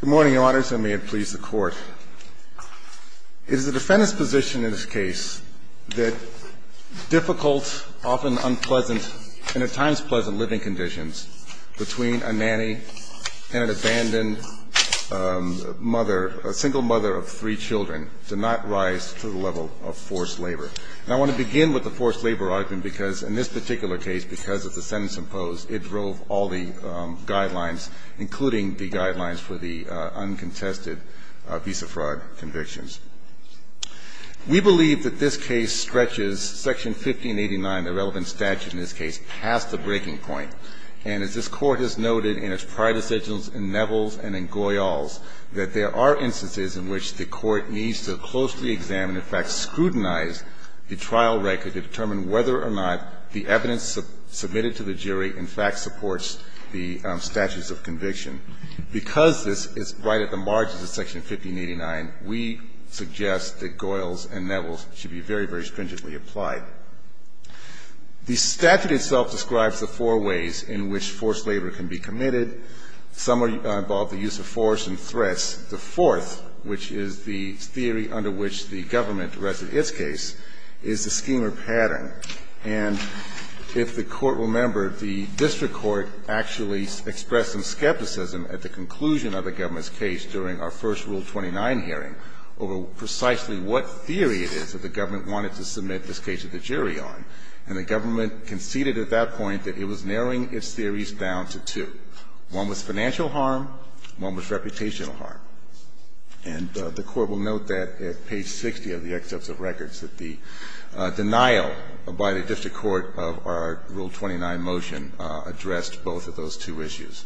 Good morning, Your Honors, and may it please the Court. It is the defendant's position in this case that difficult, often unpleasant, and at times pleasant living conditions between a nanny and an abandoned mother, a single mother of three children, do not rise to the level of forced labor. And I want to begin with the forced labor argument because in this particular case, because of the sentence imposed, it drove all the guidelines, including the guidelines for the uncontested visa fraud convictions. We believe that this case stretches Section 1589, the relevant statute in this case, past the breaking point. And as this Court has noted in its prior decisions in Neville's and in Goyal's, that there are instances in which the Court needs to closely examine, in fact scrutinize, the trial record to determine whether or not the evidence submitted to the jury in fact supports the statutes of conviction. Because this is right at the margins of Section 1589, we suggest that Goyal's and Neville's should be very, very stringently applied. The statute itself describes the four ways in which forced labor can be committed. Some involve the use of force and threats. The fourth, which is the theory under which the government directed its case, is the schema pattern. And if the Court will remember, the district court actually expressed some skepticism at the conclusion of the government's case during our first Rule 29 hearing over precisely what theory it is that the government wanted to submit this case to the jury on. And the government conceded at that point that it was narrowing its theories down to two. One was financial harm. One was reputational harm. And the Court will note that at page 60 of the excerpts of records that the denial by the district court of our Rule 29 motion addressed both of those two issues.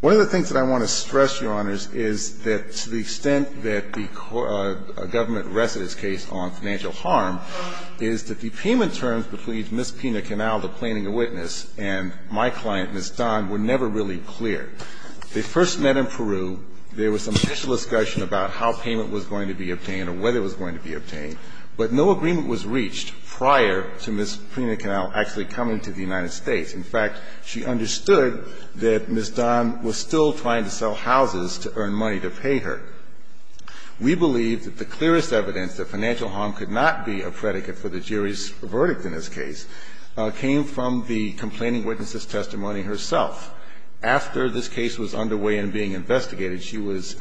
One of the things that I want to stress, Your Honors, is that to the extent that the government rested its case on financial harm is that the payment terms between Ms. Pena-Canal, the plaintiff witness, and my client, Ms. Dunn, were never really clear. They first met in Peru. There was some official discussion about how payment was going to be obtained or whether it was going to be obtained, but no agreement was reached prior to Ms. Pena-Canal actually coming to the United States. In fact, she understood that Ms. Dunn was still trying to sell houses to earn money to pay her. We believe that the clearest evidence that financial harm could not be a predicate for the jury's verdict in this case came from the complaining witness's testimony herself. After this case was underway and being investigated, she was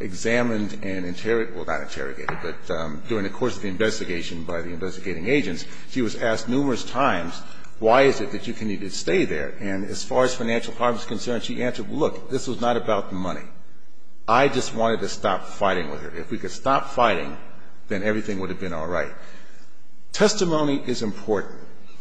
examined and interrogated – well, not interrogated, but during the course of the investigation by the investigating agents, she was asked numerous times, why is it that you continue to stay there? And as far as financial harm is concerned, she answered, look, this was not about the money. I just wanted to stop fighting with her. If we could stop fighting, then everything would have been all right. Testimony is important.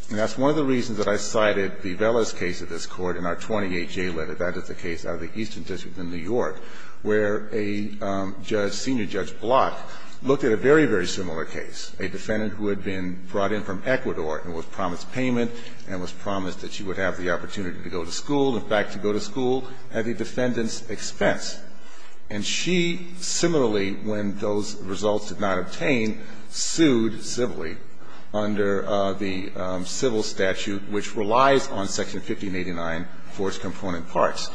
And that's one of the reasons that I cited Bivella's case of this Court in our 28-J letter. That is the case out of the Eastern District in New York where a judge, senior Judge Block, looked at a very, very similar case, a defendant who had been brought in from Ecuador and was promised payment and was promised that she would have the opportunity to go to school and back to go to school at the defendant's expense. And she, similarly, when those results did not obtain, sued civilly under the civil statute, which relies on Section 1589 for its component parts.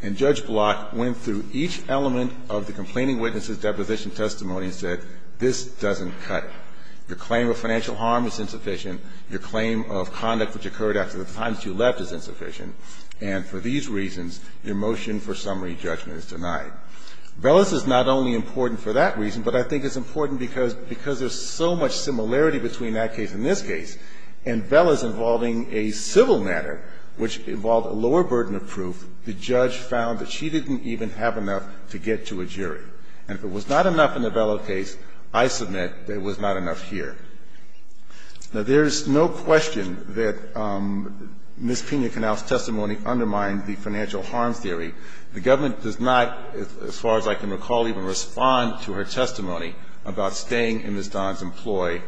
And Judge Block went through each element of the complaining witness's deposition testimony and said, this doesn't cut. Your claim of financial harm is insufficient. Your claim of conduct which occurred after the time that you left is insufficient. And for these reasons, your motion for summary judgment is denied. Bivella's is not only important for that reason, but I think it's important because there's so much similarity between that case and this case. And Bivella's involving a civil matter which involved a lower burden of proof. The judge found that she didn't even have enough to get to a jury. And if it was not enough in the Bivella case, I submit that it was not enough here. Now, there's no question that Ms. Pena-Canel's testimony undermined the financial harm theory. The government does not, as far as I can recall, even respond to her testimony about staying in Ms. Don's employ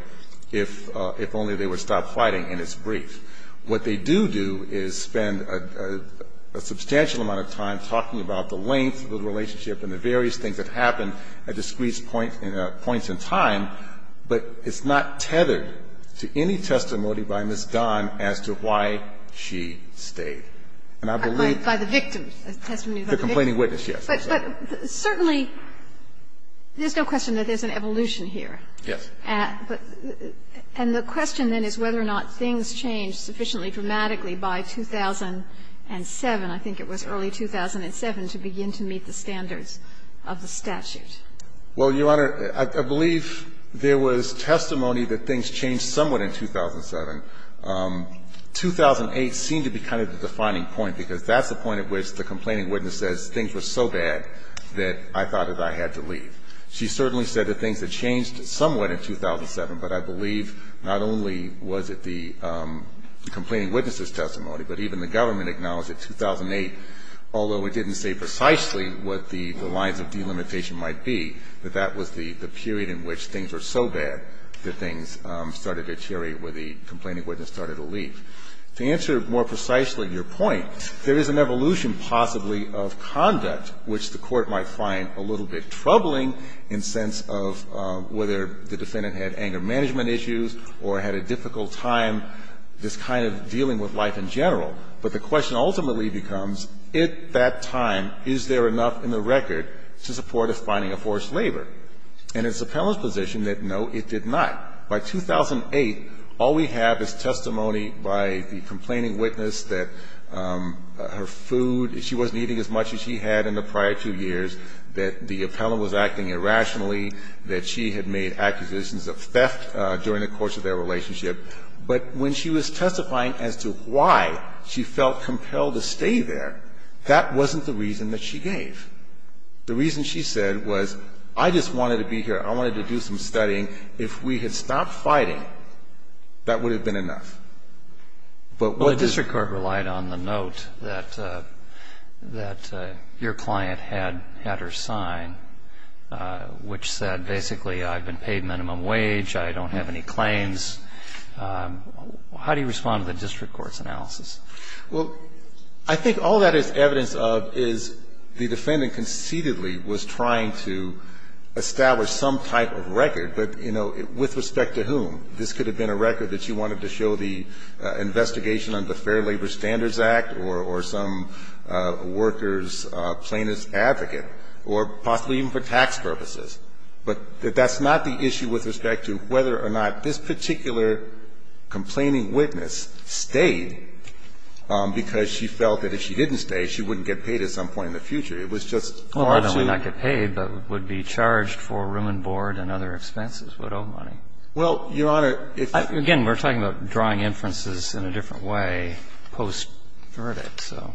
if only they would stop fighting, and it's brief. What they do do is spend a substantial amount of time talking about the length of the relationship and the various things that happened at discrete points in time, but it's not tethered to any testimony by Ms. Don as to why she stayed. And I believe by the victim, the testimony by the victim. The complaining witness, yes. But certainly there's no question that there's an evolution here. Yes. And the question then is whether or not things changed sufficiently dramatically by 2007, I think it was early 2007, to begin to meet the standards of the statute. Well, Your Honor, I believe there was testimony that things changed somewhat in 2007. 2008 seemed to be kind of the defining point, because that's the point at which the complaining witness says things were so bad that I thought that I had to leave. She certainly said that things had changed somewhat in 2007, but I believe not only was it the complaining witness's testimony, but even the government acknowledged that 2008, although it didn't say precisely what the lines of delimitation might be, that that was the period in which things were so bad that things started to deteriorate where the complaining witness started to leave. To answer more precisely your point, there is an evolution possibly of conduct which the Court might find a little bit troubling in sense of whether the defendant had anger management issues or had a difficult time just kind of dealing with life in general. But the question ultimately becomes, at that time, is there enough in the record to support us finding a forced labor? And it's the appellant's position that, no, it did not. By 2008, all we have is testimony by the complaining witness that her food, she wasn't eating as much as she had in the prior two years, that the appellant was acting irrationally, that she had made accusations of theft during the course of their time. She felt compelled to stay there. That wasn't the reason that she gave. The reason she said was, I just wanted to be here. I wanted to do some studying. If we had stopped fighting, that would have been enough. But what does the Court rely on the note that your client had her sign which said basically I've been paid minimum wage. I don't have any claims. How do you respond to the district court's analysis? Well, I think all that is evidence of is the defendant conceitedly was trying to establish some type of record. But, you know, with respect to whom? This could have been a record that you wanted to show the investigation under the Fair Labor Standards Act or some worker's plaintiff's advocate or possibly even for tax purposes. But that's not the issue with respect to whether or not this particular complaining witness stayed because she felt that if she didn't stay, she wouldn't get paid at some point in the future. It was just hard to do. Well, not only not get paid, but would be charged for room and board and other expenses, widow money. Well, Your Honor, if I can. Again, we're talking about drawing inferences in a different way post-verdict, so.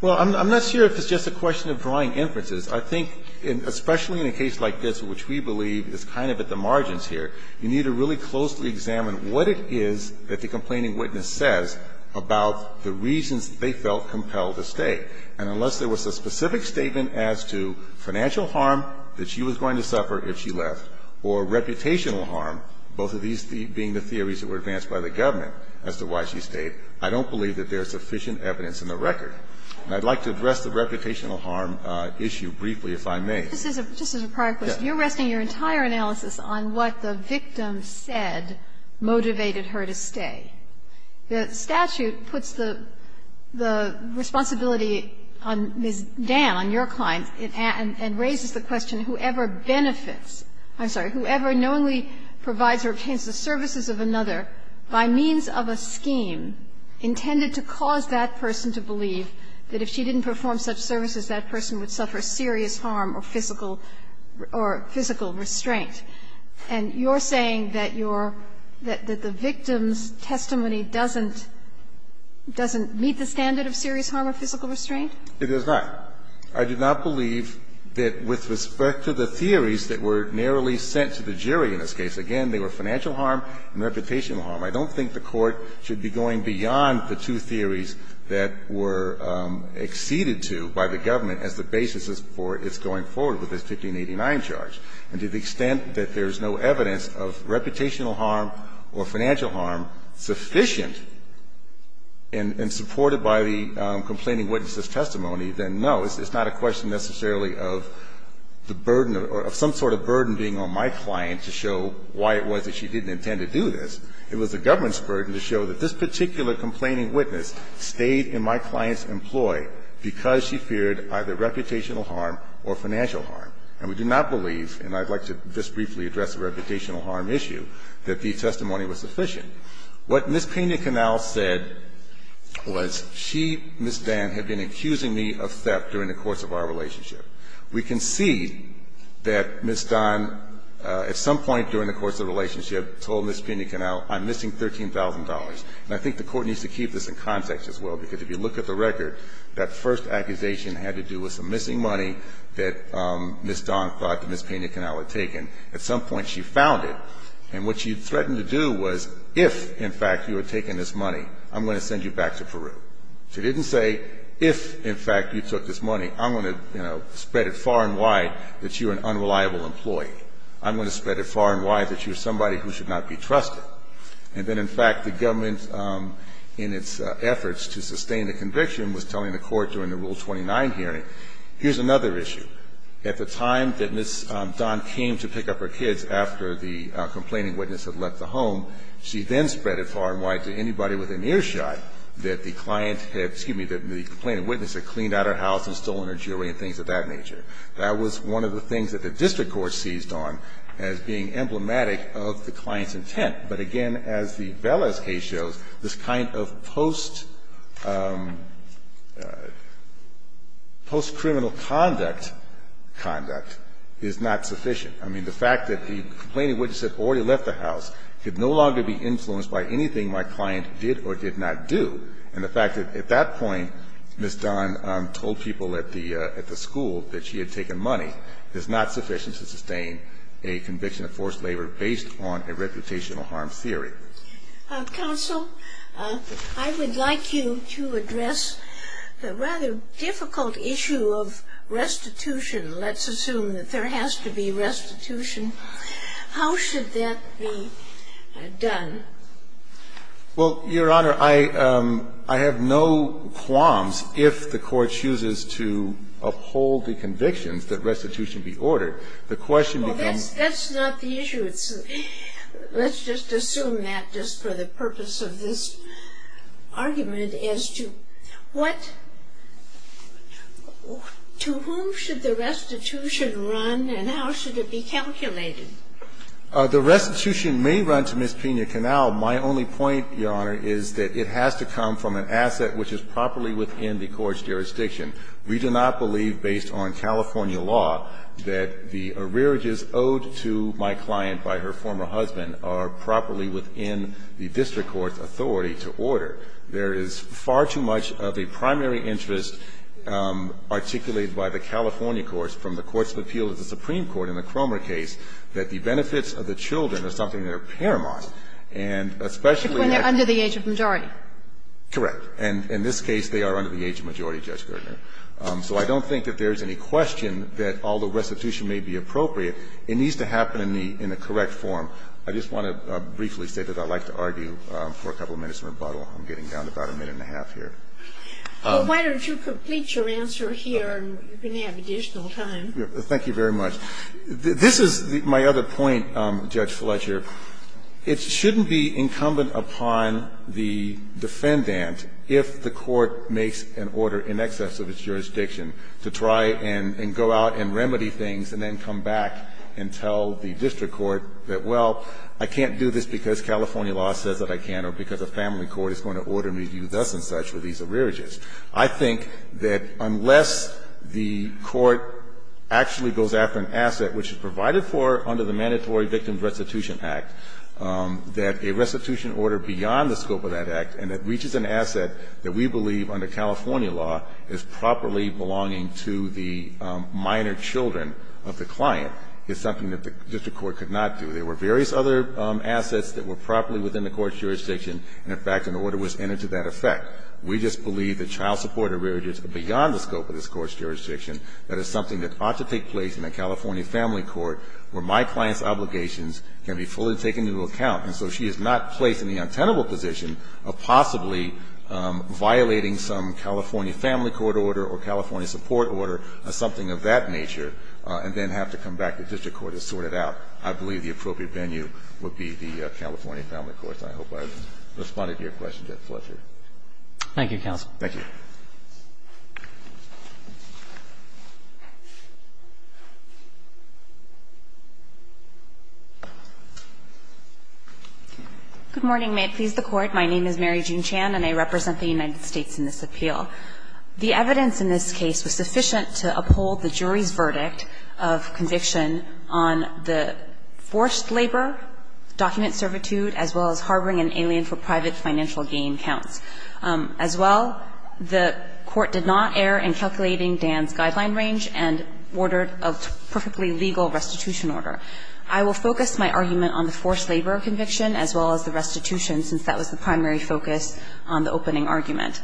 Well, I'm not sure if it's just a question of drawing inferences. I think especially in a case like this, which we believe is kind of at the margins here, you need to really closely examine what it is that the complaining witness says about the reasons they felt compelled to stay. And unless there was a specific statement as to financial harm that she was going to suffer if she left or reputational harm, both of these being the theories that were advanced by the government as to why she stayed, I don't believe that there is sufficient evidence in the record. And I'd like to address the reputational harm issue briefly, if I may. This is a prior question. You're resting your entire analysis on what the victim said motivated her to stay. The statute puts the responsibility on Ms. Dan, on your client, and raises the question, whoever benefits, I'm sorry, whoever knowingly provides or obtains the services of another by means of a scheme intended to cause that person to believe that if she didn't perform such services, that person would suffer serious harm or physical restraint. And you're saying that your – that the victim's testimony doesn't meet the standard of serious harm or physical restraint? It does not. I do not believe that with respect to the theories that were narrowly sent to the jury in this case, again, they were financial harm and reputational harm. I don't think the Court should be going beyond the two theories that were acceded to by the government as the basis for its going forward with this 1589 charge. And to the extent that there is no evidence of reputational harm or financial harm sufficient and supported by the complaining witness's testimony, then no, it's not a question necessarily of the burden or some sort of burden being on my client to show why it was that she didn't intend to do this. It was the government's burden to show that this particular complaining witness stayed in my client's employ because she feared either reputational harm or financial harm. And we do not believe, and I'd like to just briefly address the reputational harm issue, that the testimony was sufficient. What Ms. Pena-Canal said was she, Ms. Dann, had been accusing me of theft during the course of our relationship. We can see that Ms. Dann, at some point during the course of the relationship, told Ms. Pena-Canal, I'm missing $13,000. And I think the Court needs to keep this in context as well, because if you look at the record, that first accusation had to do with some missing money that Ms. Dann thought that Ms. Pena-Canal had taken. At some point she found it, and what she threatened to do was, if, in fact, you had She didn't say, if, in fact, you took this money, I'm going to, you know, spread it far and wide that you're an unreliable employee. I'm going to spread it far and wide that you're somebody who should not be trusted. And then, in fact, the government, in its efforts to sustain the conviction, was telling the Court during the Rule 29 hearing, here's another issue. At the time that Ms. Dann came to pick up her kids after the complaining witness had left the home, she then spread it far and wide to anybody with an earshot that the client had, excuse me, that the complaining witness had cleaned out her house and stolen her jewelry and things of that nature. That was one of the things that the district court seized on as being emblematic of the client's intent. But again, as the Velez case shows, this kind of post-criminal conduct conduct is not sufficient. I mean, the fact that the complaining witness had already left the house could no longer be influenced by anything my client did or did not do, and the fact that, at that point, Ms. Dann told people at the school that she had taken money, is not sufficient to sustain a conviction of forced labor based on a reputational harm theory. Counsel, I would like you to address the rather difficult issue of restitution. Let's assume that there has to be restitution. How should that be done? Well, Your Honor, I have no qualms if the court chooses to uphold the convictions that restitution be ordered. The question becomes That's not the issue. Let's just assume that just for the purpose of this argument as to what to whom should the restitution run and how should it be calculated? The restitution may run to Ms. Pena-Canal. My only point, Your Honor, is that it has to come from an asset which is properly within the court's jurisdiction. We do not believe, based on California law, that the arrearages owed to my client by her former husband are properly within the district court's authority to order. There is far too much of a primary interest articulated by the California courts, from the Courts of Appeal to the Supreme Court in the Cromer case, that the benefits of the children are something that are paramount. And especially if they're under the age of majority. Correct. And in this case, they are under the age of majority, Judge Gertner. So I don't think that there is any question that although restitution may be appropriate, it needs to happen in the correct form. I just want to briefly say that I'd like to argue for a couple of minutes in rebuttal. I'm getting down to about a minute and a half here. Why don't you complete your answer here, and you're going to have additional time. Thank you very much. This is my other point, Judge Fletcher. It shouldn't be incumbent upon the defendant, if the court makes an order in excess of its jurisdiction, to try and go out and remedy things and then come back and tell the district court that, well, I can't do this because California law says that I can't, or because a family court is going to order me to do this and such with these arrearages. I think that unless the court actually goes after an asset which is provided for under the Mandatory Victim Restitution Act, that a restitution order beyond the scope of that act, and it reaches an asset that we believe under California law is properly belonging to the minor children of the client, is something that the district court could not do. There were various other assets that were properly within the court's jurisdiction, and in fact, an order was entered to that effect. We just believe that child support arrearages are beyond the scope of this court's jurisdiction, that it's something that ought to take place in a California family court where my client's obligations can be fully taken into account, and so she is not placed in the untenable position of possibly violating some California family court order or California support order or something of that nature, and then have to come back to the district court to sort it out. I believe the appropriate venue would be the California family court. I hope I've responded to your question, Judge Fletcher. Roberts. Thank you, counsel. Thank you. Good morning. May it please the Court. My name is Mary Jean Chan, and I represent the United States in this appeal. The evidence in this case was sufficient to uphold the jury's verdict of conviction on the forced labor, document servitude, as well as harboring an alien for private financial gain counts. As well, the court did not err in calculating Dan's guideline range and ordered a perfectly legal restitution order. I will focus my argument on the forced labor conviction as well as the restitution since that was the primary focus on the opening argument.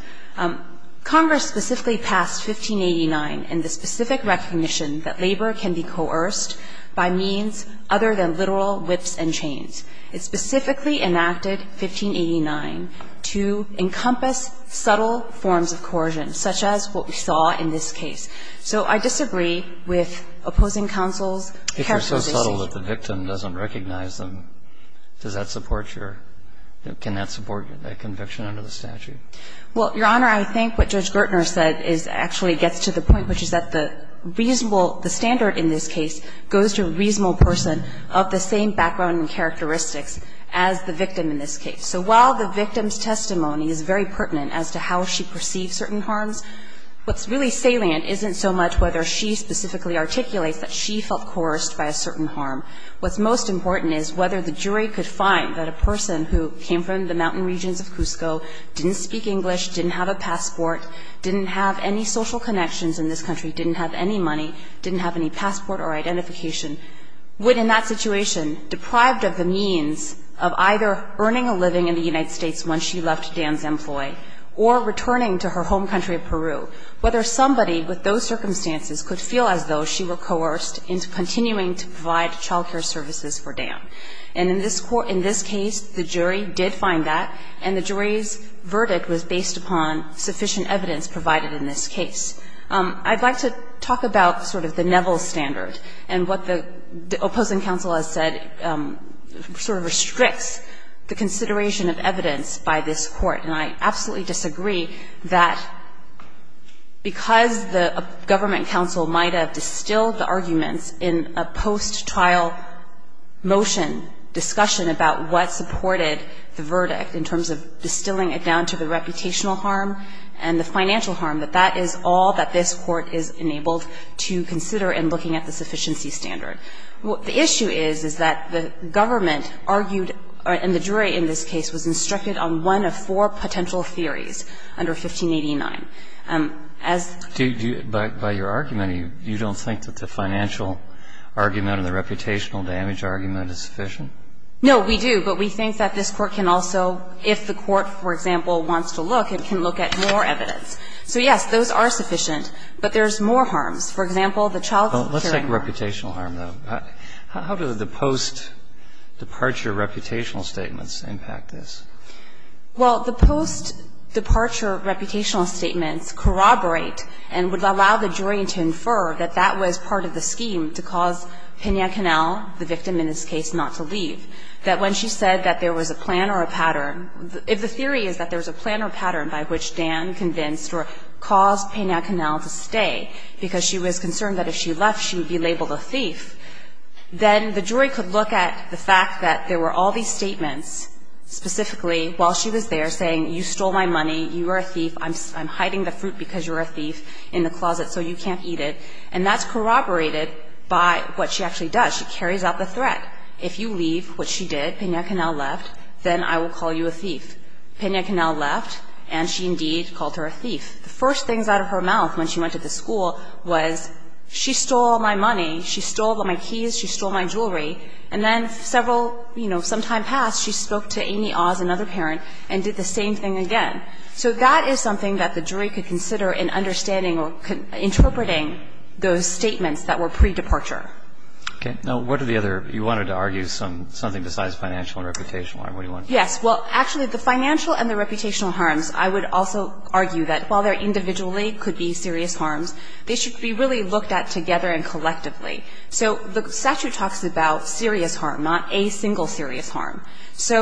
Congress specifically passed 1589 in the specific recognition that labor can be coerced by means other than literal whips and chains. It specifically enacted 1589 to encompass subtle forms of coercion, such as what we saw in this case. So I disagree with opposing counsel's characterization. If you're so subtle that the victim doesn't recognize them, does that support your – can that support the conviction under the statute? Well, Your Honor, I think what Judge Gertner said is – actually gets to the point, which is that the reasonable – the standard in this case goes to a reasonable person of the same background and characteristics as the victim in this case. So while the victim's testimony is very pertinent as to how she perceived certain harms, what's really salient isn't so much whether she specifically articulates that she felt coerced by a certain harm. What's most important is whether the jury could find that a person who came from the mountain regions of Cusco didn't speak English, didn't have a passport, didn't have any social connections in this country, didn't have any money, didn't have any passport or identification, would in that situation, deprived of the means of either earning a living in the United States once she left Dan's employee or returning to her home country of Peru, whether somebody with those circumstances could feel as though she were coerced into continuing to provide child care services for Dan. And in this case, the jury did find that, and the jury's verdict was based upon sufficient evidence provided in this case. I'd like to talk about sort of the Neville standard and what the opposing counsel has said sort of restricts the consideration of evidence by this court. And I absolutely disagree that because the government counsel might have distilled the arguments in a post-trial motion discussion about what supported the verdict in terms of distilling it down to the reputational harm and the financial harm, that that is all that this court is enabled to consider in looking at the sufficiency standard. What the issue is, is that the government argued, and the jury in this case, was instructed on one of four potential theories under 1589. As to do it by your argument, you don't think that the financial argument or the reputational damage argument is sufficient? No, we do. But we think that this court can also, if the court, for example, wants to look, it can look at more evidence. So, yes, those are sufficient. But there's more harms. For example, the child care harm. Let's take reputational harm, though. How do the post-departure reputational statements impact this? Well, the post-departure reputational statements corroborate and would allow the jury to infer that that was part of the scheme to cause Pena Canel, the victim in this case, not to leave. That when she said that there was a plan or a pattern, if the theory is that there was a plan or a pattern by which Dan convinced or caused Pena Canel to stay because she was concerned that if she left, she would be labeled a thief, then the jury could look at the fact that there were all these statements, specifically, while she was there, saying, you stole my money, you are a thief, I'm hiding the fruit because you're a thief in the closet so you can't eat it, and that's corroborated by what she actually does. She carries out the threat. If you leave, which she did, Pena Canel left, then I will call you a thief. Pena Canel left, and she indeed called her a thief. The first things out of her mouth when she went to the school was, she stole my money, she stole my keys, she stole my jewelry, and then several, you know, some time passed, she spoke to Amy Oz, another parent, and did the same thing again. So that is something that the jury could consider in understanding or interpreting those statements that were pre-departure. Okay. Now, what are the other you wanted to argue, something besides financial and reputational harm, what do you want to do? Yes. Well, actually, the financial and the reputational harms, I would also argue that while they're individually could be serious harms, they should be really looked at together and collectively. So the statute talks about serious harm, not a single serious harm. So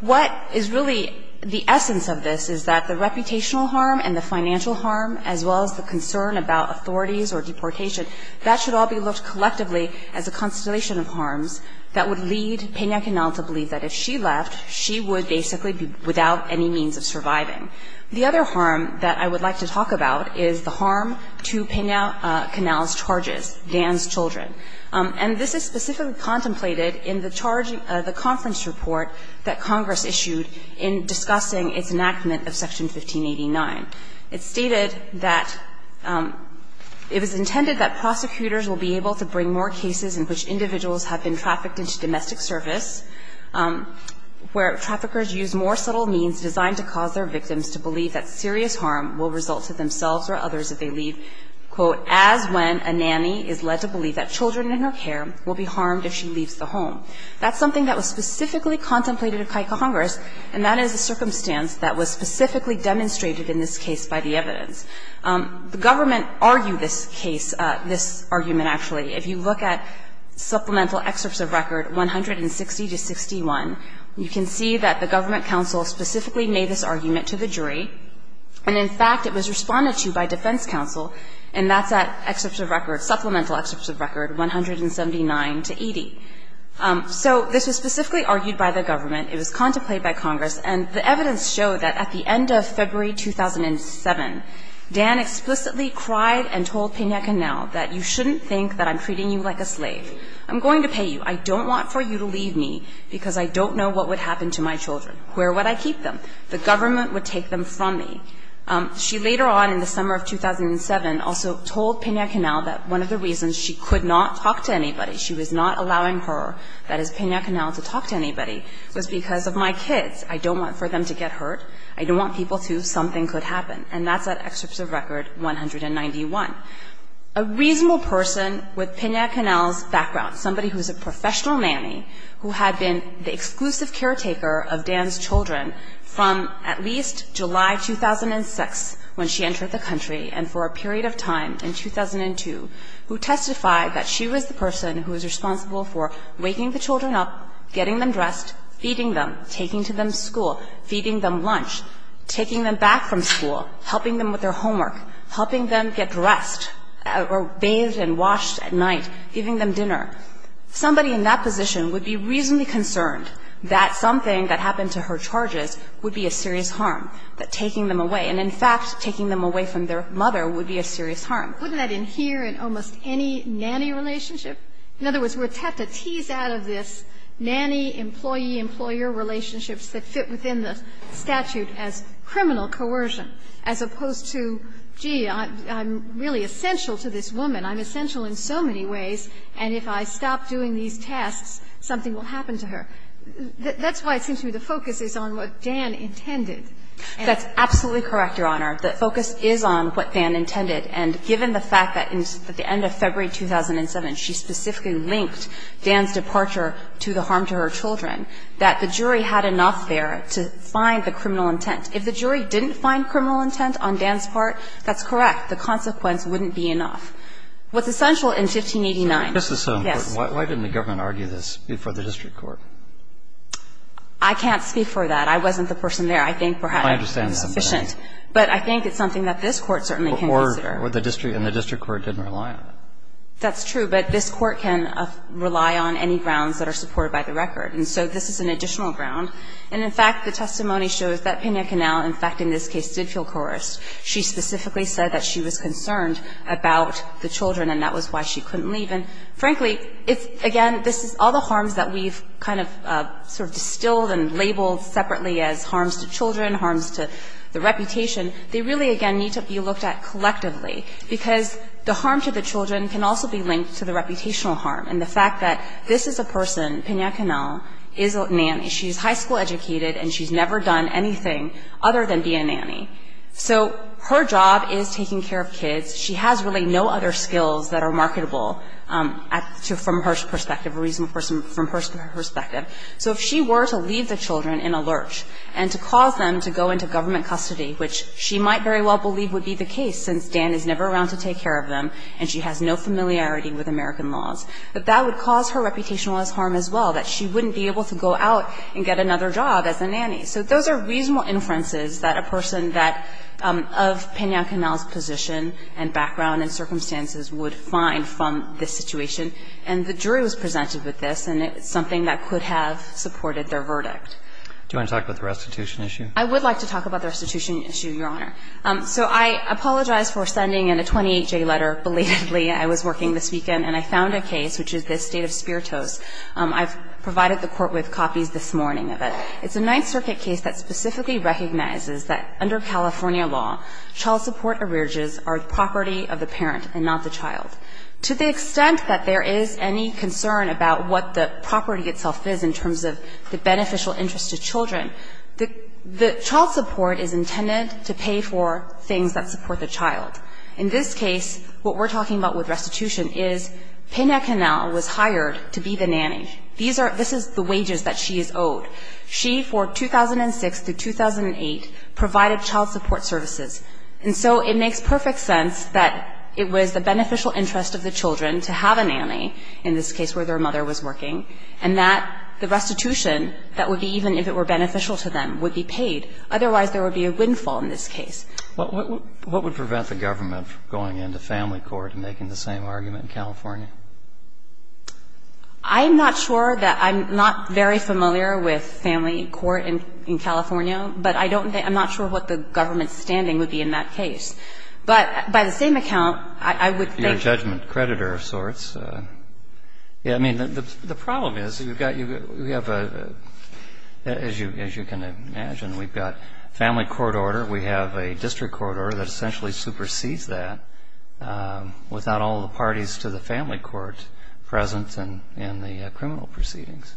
what is really the essence of this is that the reputational harm and the financial harm, as well as the concern about authorities or deportation, that should all be looked at collectively as a constellation of harms that would lead Pena-Canel to believe that if she left, she would basically be without any means of surviving. The other harm that I would like to talk about is the harm to Pena-Canel's charges, Dan's children. And this is specifically contemplated in the charge, the conference report that Congress issued in discussing its enactment of Section 1589. It stated that it was intended that prosecutors will be able to bring more cases in which individuals have been trafficked into domestic service, where traffickers use more subtle means designed to cause their victims to believe that serious harm will result to themselves or others if they leave, quote, as when a nanny is led to believe that children in her care will be harmed if she leaves the home. That's something that was specifically contemplated at CICO Congress, and that is a circumstance that was specifically demonstrated in this case by the evidence. The government argued this case, this argument, actually. If you look at supplemental excerpts of record 160 to 61, you can see that the government counsel specifically made this argument to the jury. And in fact, it was responded to by defense counsel, and that's at excerpts of record – supplemental excerpts of record 179 to 80. So this was specifically argued by the government. It was contemplated by Congress. And the evidence showed that at the end of February 2007, Dan explicitly cried and told Pena Canal that you shouldn't think that I'm treating you like a slave. I'm going to pay you. I don't want for you to leave me because I don't know what would happen to my children. Where would I keep them? The government would take them from me. She later on in the summer of 2007 also told Pena Canal that one of the reasons she could not talk to anybody, she was not allowing her, that is, Pena Canal, to talk to anybody was because of my kids. I don't want for them to get hurt. I don't want people to, something could happen. And that's at excerpts of record 191. A reasonable person with Pena Canal's background, somebody who is a professional nanny who had been the exclusive caretaker of Dan's children from at least July 2006 when she entered the country and for a period of time in 2002, who testified that she was the person who was responsible for waking the children up, getting them dressed, feeding them, taking them to school, feeding them lunch, taking them back from school, helping them with their homework, helping them get dressed or bathed and washed at night, giving them dinner, somebody in that position would be reasonably concerned that something that happened to her charges would be a serious harm, that taking them away, and in fact, taking them away from their mother would be a serious harm. Wouldn't that adhere in almost any nanny relationship? In other words, we're tapped to tease out of this nanny-employee-employer relationships that fit within the statute as criminal coercion, as opposed to, gee, I'm really essential to this woman, I'm essential in so many ways, and if I stop doing these tasks, something will happen to her. That's why it seems to me the focus is on what Dan intended. That's absolutely correct, Your Honor. The focus is on what Dan intended. And given the fact that at the end of February 2007, she specifically linked Dan's departure to the harm to her children, that the jury had enough there to find the criminal intent. If the jury didn't find criminal intent on Dan's part, that's correct. The consequence wouldn't be enough. What's essential in 1589 – This is so important. Why didn't the government argue this before the district court? I can't speak for that. I wasn't the person there. I think perhaps I'm insufficient, but I think it's something that this Court certainly can consider. And the district court didn't rely on it. That's true, but this Court can rely on any grounds that are supported by the record. And so this is an additional ground. And, in fact, the testimony shows that Pena-Canel, in fact, in this case, did feel coerced. She specifically said that she was concerned about the children, and that was why she couldn't leave. And, frankly, it's, again, this is all the harms that we've kind of sort of distilled and labeled separately as harms to children, harms to the reputation. They really, again, need to be looked at collectively, because the harm to the children can also be linked to the reputational harm. And the fact that this is a person, Pena-Canel, is a nanny. She's high school educated, and she's never done anything other than be a nanny. So her job is taking care of kids. She has really no other skills that are marketable from her perspective, a reasonable person from her perspective. So if she were to leave the children in a lurch and to cause them to go into government custody, which she might very well believe would be the case, since Dan is never around to take care of them, and she has no familiarity with American laws, that that would cause her reputational harm as well, that she wouldn't be able to go out and get another job as a nanny. So those are reasonable inferences that a person that of Pena-Canel's position and background and circumstances would find from this situation. And the jury was presented with this, and it's something that could have supported their verdict. Roberts. Do you want to talk about the restitution issue? I would like to talk about the restitution issue, Your Honor. So I apologize for sending in a 28-J letter belatedly. I was working this weekend, and I found a case, which is this State of Spiritos. I've provided the Court with copies this morning of it. It's a Ninth Circuit case that specifically recognizes that under California law, child support arrearages are the property of the parent and not the child. To the extent that there is any concern about what the property itself is in terms of the beneficial interest to children, the child support is intended to pay for things that support the child. In this case, what we're talking about with restitution is Pena-Canel was hired to be the nanny. This is the wages that she is owed. She, for 2006 to 2008, provided child support services. And so it makes perfect sense that it was the beneficial interest of the children to have a nanny, in this case where their mother was working, and that the restitution, that would be even if it were beneficial to them, would be paid. Otherwise, there would be a windfall in this case. What would prevent the government from going into family court and making the same argument in California? I'm not sure that I'm not very familiar with family court in California, but I don't think – I'm not sure what the government's standing would be in that case. I mean, the problem is, you've got – we have a – as you can imagine, we've got family court order. We have a district court order that essentially supersedes that, without all the parties to the family court present in the criminal proceedings.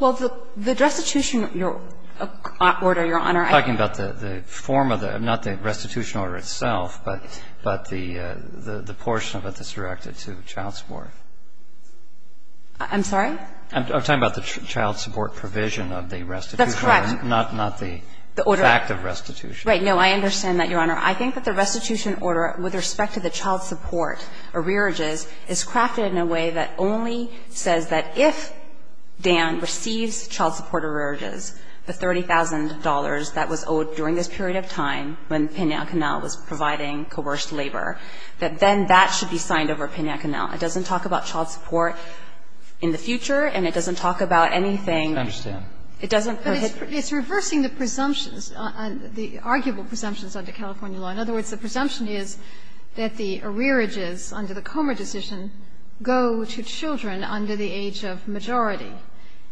Well, the restitution order, Your Honor, I think the form of the – not the restitution order itself, but the portion of it that's directed to child support services. I'm sorry? I'm talking about the child support provision of the restitution order. That's correct. Not the fact of restitution. Right. No, I understand that, Your Honor. I think that the restitution order with respect to the child support arrearages is crafted in a way that only says that if Dan receives child support arrearages, the $30,000 that was owed during this period of time when Pena Canal was providing coerced labor, that then that should be signed over Pena Canal. It doesn't talk about child support in the future, and it doesn't talk about anything – I understand. It doesn't – But it's reversing the presumptions, the arguable presumptions under California law. In other words, the presumption is that the arrearages under the Comer decision go to children under the age of majority.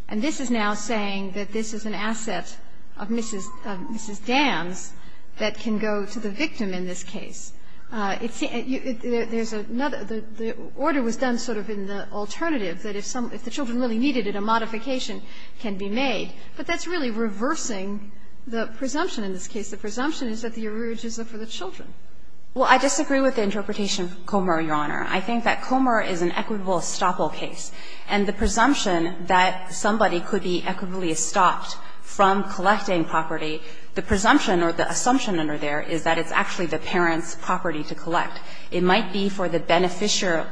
And this is now saying that this is an asset of Mrs. – of Mrs. Dan's that can go to the victim in this case. It's – there's another – the order was done sort of in the alternative, that if some – if the children really needed it, a modification can be made. But that's really reversing the presumption in this case. The presumption is that the arrearages are for the children. Well, I disagree with the interpretation of Comer, Your Honor. I think that Comer is an equitable estoppel case. And the presumption that somebody could be equitably estopped from collecting property, the presumption or the assumption under there is that it's actually the parent's property to collect. It might be for the beneficiary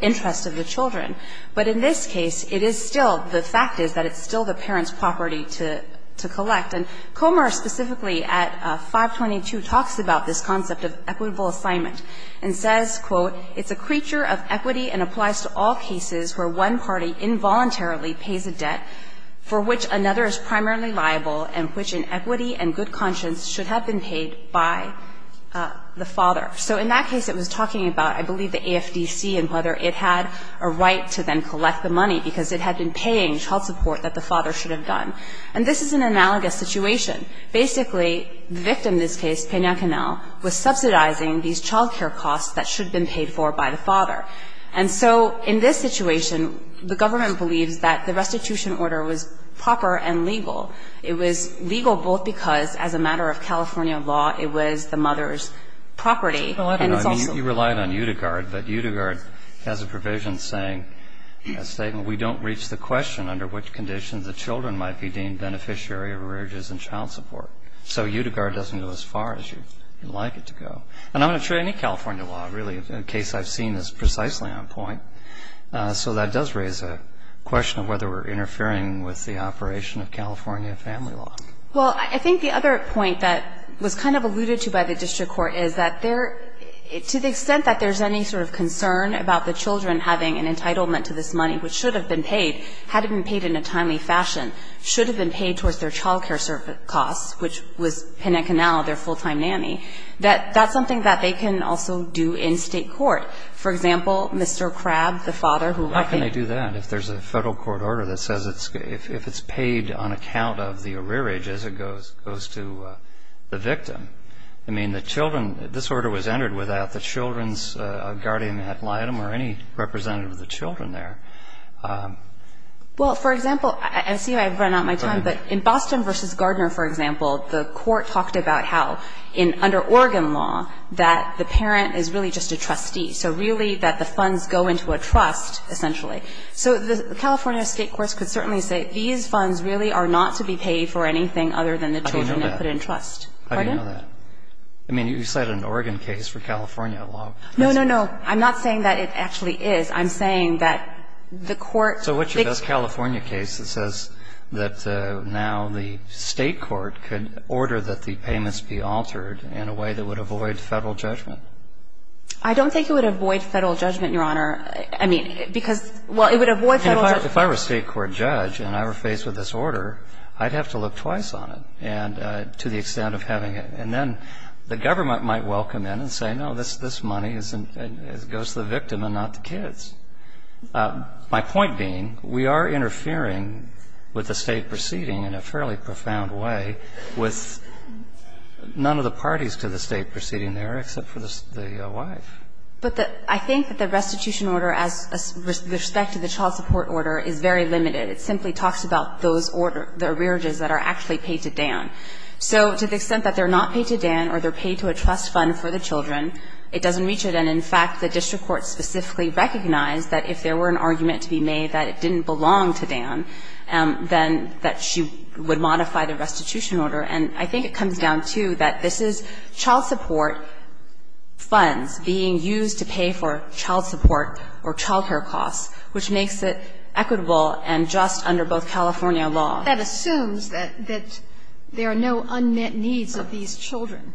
interest of the children. But in this case, it is still – the fact is that it's still the parent's property to – to collect. And Comer specifically at 522 talks about this concept of equitable assignment and says, quote, It's a creature of equity and applies to all cases where one party involuntarily pays a debt for which another is primarily liable and which in equity and good conscience should have been paid by the father. So in that case, it was talking about, I believe, the AFDC and whether it had a right to then collect the money because it had been paying child support that the father should have done. And this is an analogous situation. Basically, the victim in this case, Pena Canel, was subsidizing these child care costs that should have been paid for by the father. And so in this situation, the government believes that the restitution order was proper and legal. It was legal both because as a matter of California law, it was the mother's property and it's also – You relied on Utigard, but Utigard has a provision saying – a statement, We don't reach the question under which conditions the children might be deemed beneficiary of arrearages and child support. So Utigard doesn't go as far as you'd like it to go. And I'm not sure any California law really, in the case I've seen, is precisely on point. So that does raise a question of whether we're interfering with the operation of California family law. Well, I think the other point that was kind of alluded to by the district court is that there – to the extent that there's any sort of concern about the children having an entitlement to this money which should have been paid, had it been paid in a timely fashion, should have been paid towards their child care costs, which was Pena Canal, their full-time nanny, that that's something that they can also do in state court. For example, Mr. Crabb, the father who – How can they do that if there's a federal court order that says it's – if it's paid on account of the arrearage as it goes to the victim? I mean, the children – this order was entered without the children's guardian ad litem or any representative of the children there. Well, for example, I see I've run out of my time, but in Boston v. Gardner, for example, the court talked about how in – under Oregon law that the parent is really just a trustee, so really that the funds go into a trust, essentially. So the California state courts could certainly say these funds really are not to be paid for anything other than the children they put in trust. Pardon? I didn't know that. I mean, you cited an Oregon case for California law. No, no, no. I'm not saying that it actually is. I'm saying that the court – So what's your best California case that says that now the state court could order that the payments be altered in a way that would avoid federal judgment? I don't think it would avoid federal judgment, Your Honor. I mean, because – well, it would avoid federal – If I were a state court judge and I were faced with this order, I'd have to look twice on it and – to the extent of having it. And then the government might welcome it and say, no, this money is – it goes to the victim and not the kids. My point being, we are interfering with the state proceeding in a fairly profound way with none of the parties to the state proceeding there except for the wife. But the – I think that the restitution order as – with respect to the child support order is very limited. It simply talks about those order – the arrearages that are actually paid to Dan. So to the extent that they're not paid to Dan or they're paid to a trust fund for the children, it doesn't reach it. And in fact, the district court specifically recognized that if there were an argument to be made that it didn't belong to Dan, then that she would modify the restitution order. And I think it comes down to that this is child support funds being used to pay for child support or child care costs, which makes it equitable and just under both California law. That assumes that there are no unmet needs of these children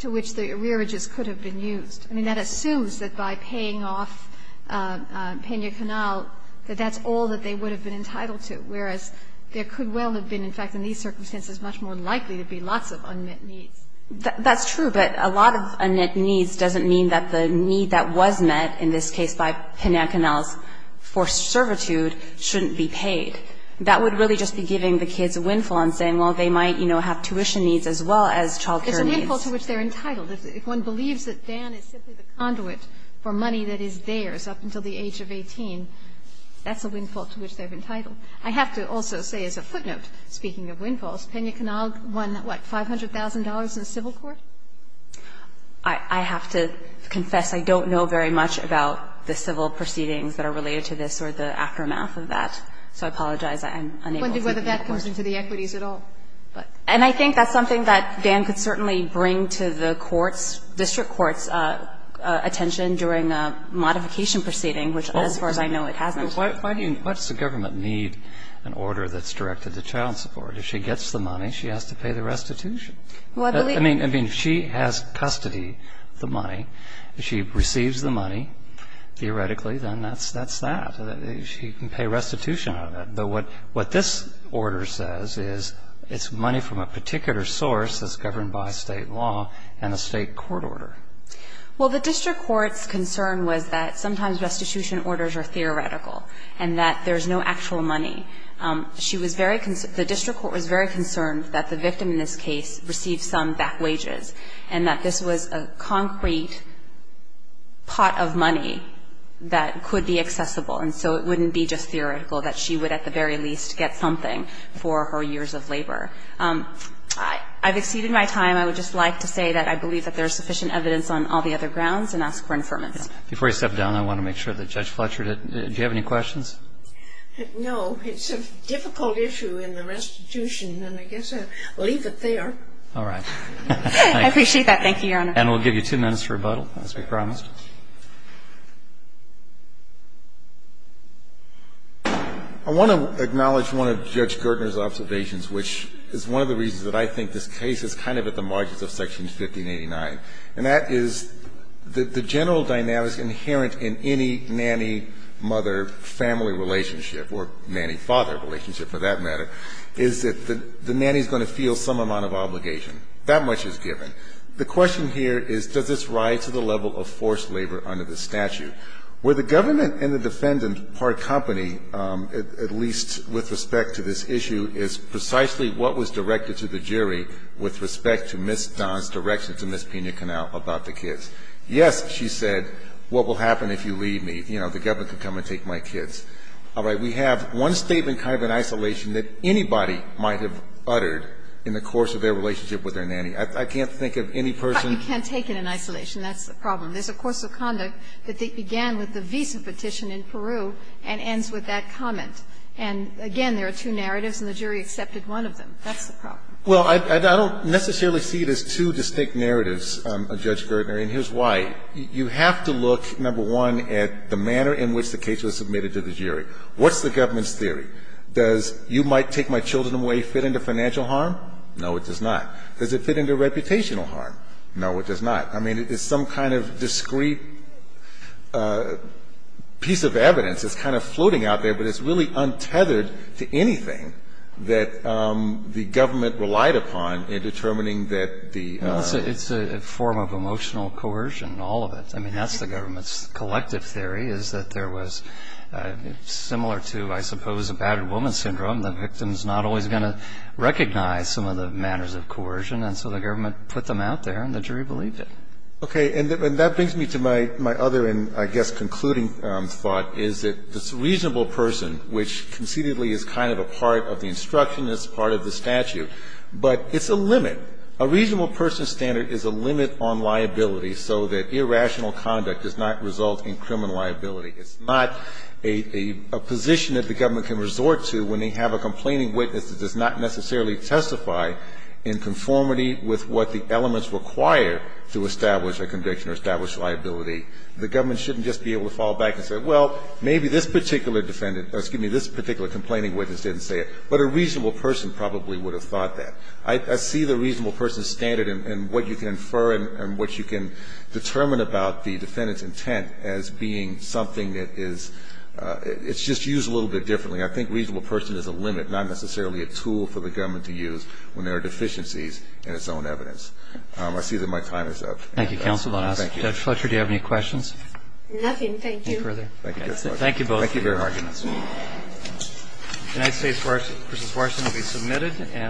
to which the arrearages could have been used. I mean, that assumes that by paying off Pena-Canel, that that's all that they would have been entitled to, whereas there could well have been, in fact, in these circumstances, much more likely to be lots of unmet needs. That's true, but a lot of unmet needs doesn't mean that the need that was met, in this case by Pena-Canel's for servitude, shouldn't be paid. That would really just be giving the kids a windfall and saying, well, they might, you know, have tuition needs as well as child care needs. It's a windfall to which they're entitled. If one believes that Dan is simply the conduit for money that is theirs up until the age of 18, that's a windfall to which they're entitled. I have to also say, as a footnote, speaking of windfalls, Pena-Canel won, what, $500,000 in the civil court? I have to confess I don't know very much about the civil proceedings that are related to this or the aftermath of that, so I apologize. I'm unable to give you a question. I'm wondering whether that comes into the equities at all. And I think that's something that Dan could certainly bring to the courts, district courts' attention during a modification proceeding, which, as far as I know, it hasn't. Why do you, why does the government need an order that's directed to child support? If she gets the money, she has to pay the restitution. I mean, if she has custody of the money, if she receives the money, theoretically, then that's that. She can pay restitution on it. But what this order says is it's money from a particular source that's governed by state law and a state court order. Well, the district court's concern was that sometimes restitution orders are theoretical and that there's no actual money. She was very, the district court was very concerned that the victim in this case received some back wages and that this was a concrete pot of money that could be used to, at the very least, get something for her years of labor. I've exceeded my time. I would just like to say that I believe that there's sufficient evidence on all the other grounds and ask for an affirmance. Before you step down, I want to make sure that Judge Fletcher, did you have any questions? No. It's a difficult issue in the restitution, and I guess I'll leave it there. All right. I appreciate that. Thank you, Your Honor. And we'll give you two minutes for rebuttal, as we promised. I want to acknowledge one of Judge Gertner's observations, which is one of the reasons that I think this case is kind of at the margins of Section 1589, and that is that the general dynamics inherent in any nanny-mother-family relationship or nanny-father relationship, for that matter, is that the nanny's going to feel some amount of obligation. That much is given. The question here is, does this rise to the level of forced labor under the statute? Where the government and the defendant part company, at least with respect to this issue, is precisely what was directed to the jury with respect to Ms. Don's direction to Ms. Pena-Canal about the kids. Yes, she said, what will happen if you leave me? You know, the government can come and take my kids. All right. We have one statement kind of in isolation that anybody might have uttered in the course of their relationship with their nanny. I can't think of any person. But you can't take it in isolation. That's the problem. There's a course of conduct that began with the visa petition in Peru and ends with that comment. And again, there are two narratives, and the jury accepted one of them. That's the problem. Well, I don't necessarily see it as two distinct narratives, Judge Gertner, and here's why. You have to look, number one, at the manner in which the case was submitted to the jury. What's the government's theory? Does you might take my children away fit into financial harm? No, it does not. Does it fit into reputational harm? No, it does not. I mean, it's some kind of discrete piece of evidence. It's kind of floating out there, but it's really untethered to anything that the government relied upon in determining that the ---- It's a form of emotional coercion, all of it. I mean, that's the government's collective theory, is that there was, similar to, I suppose, a battered woman syndrome, the victim's not always going to recognize some of the manners of coercion, and so the government put them out there, and the jury believed it. Okay. And that brings me to my other, and I guess concluding thought, is that this reasonable person, which concededly is kind of a part of the instruction, it's part of the statute, but it's a limit. A reasonable person standard is a limit on liability, so that irrational conduct does not result in criminal liability. It's not a position that the government can resort to when they have a complaining witness that does not necessarily testify in conformity with what the elements require to establish a conviction or establish liability. The government shouldn't just be able to fall back and say, well, maybe this particular defendant, excuse me, this particular complaining witness didn't say it. But a reasonable person probably would have thought that. I see the reasonable person standard and what you can infer and what you can determine about the defendant's intent as being something that is ---- it's just used a little bit differently. I think reasonable person is a limit, not necessarily a tool for the government to use when there are deficiencies in its own evidence. I see that my time is up. Thank you, counsel. Judge Fletcher, do you have any questions? Nothing. Thank you. Thank you both. Thank you very much. United States v. Swarson will be submitted and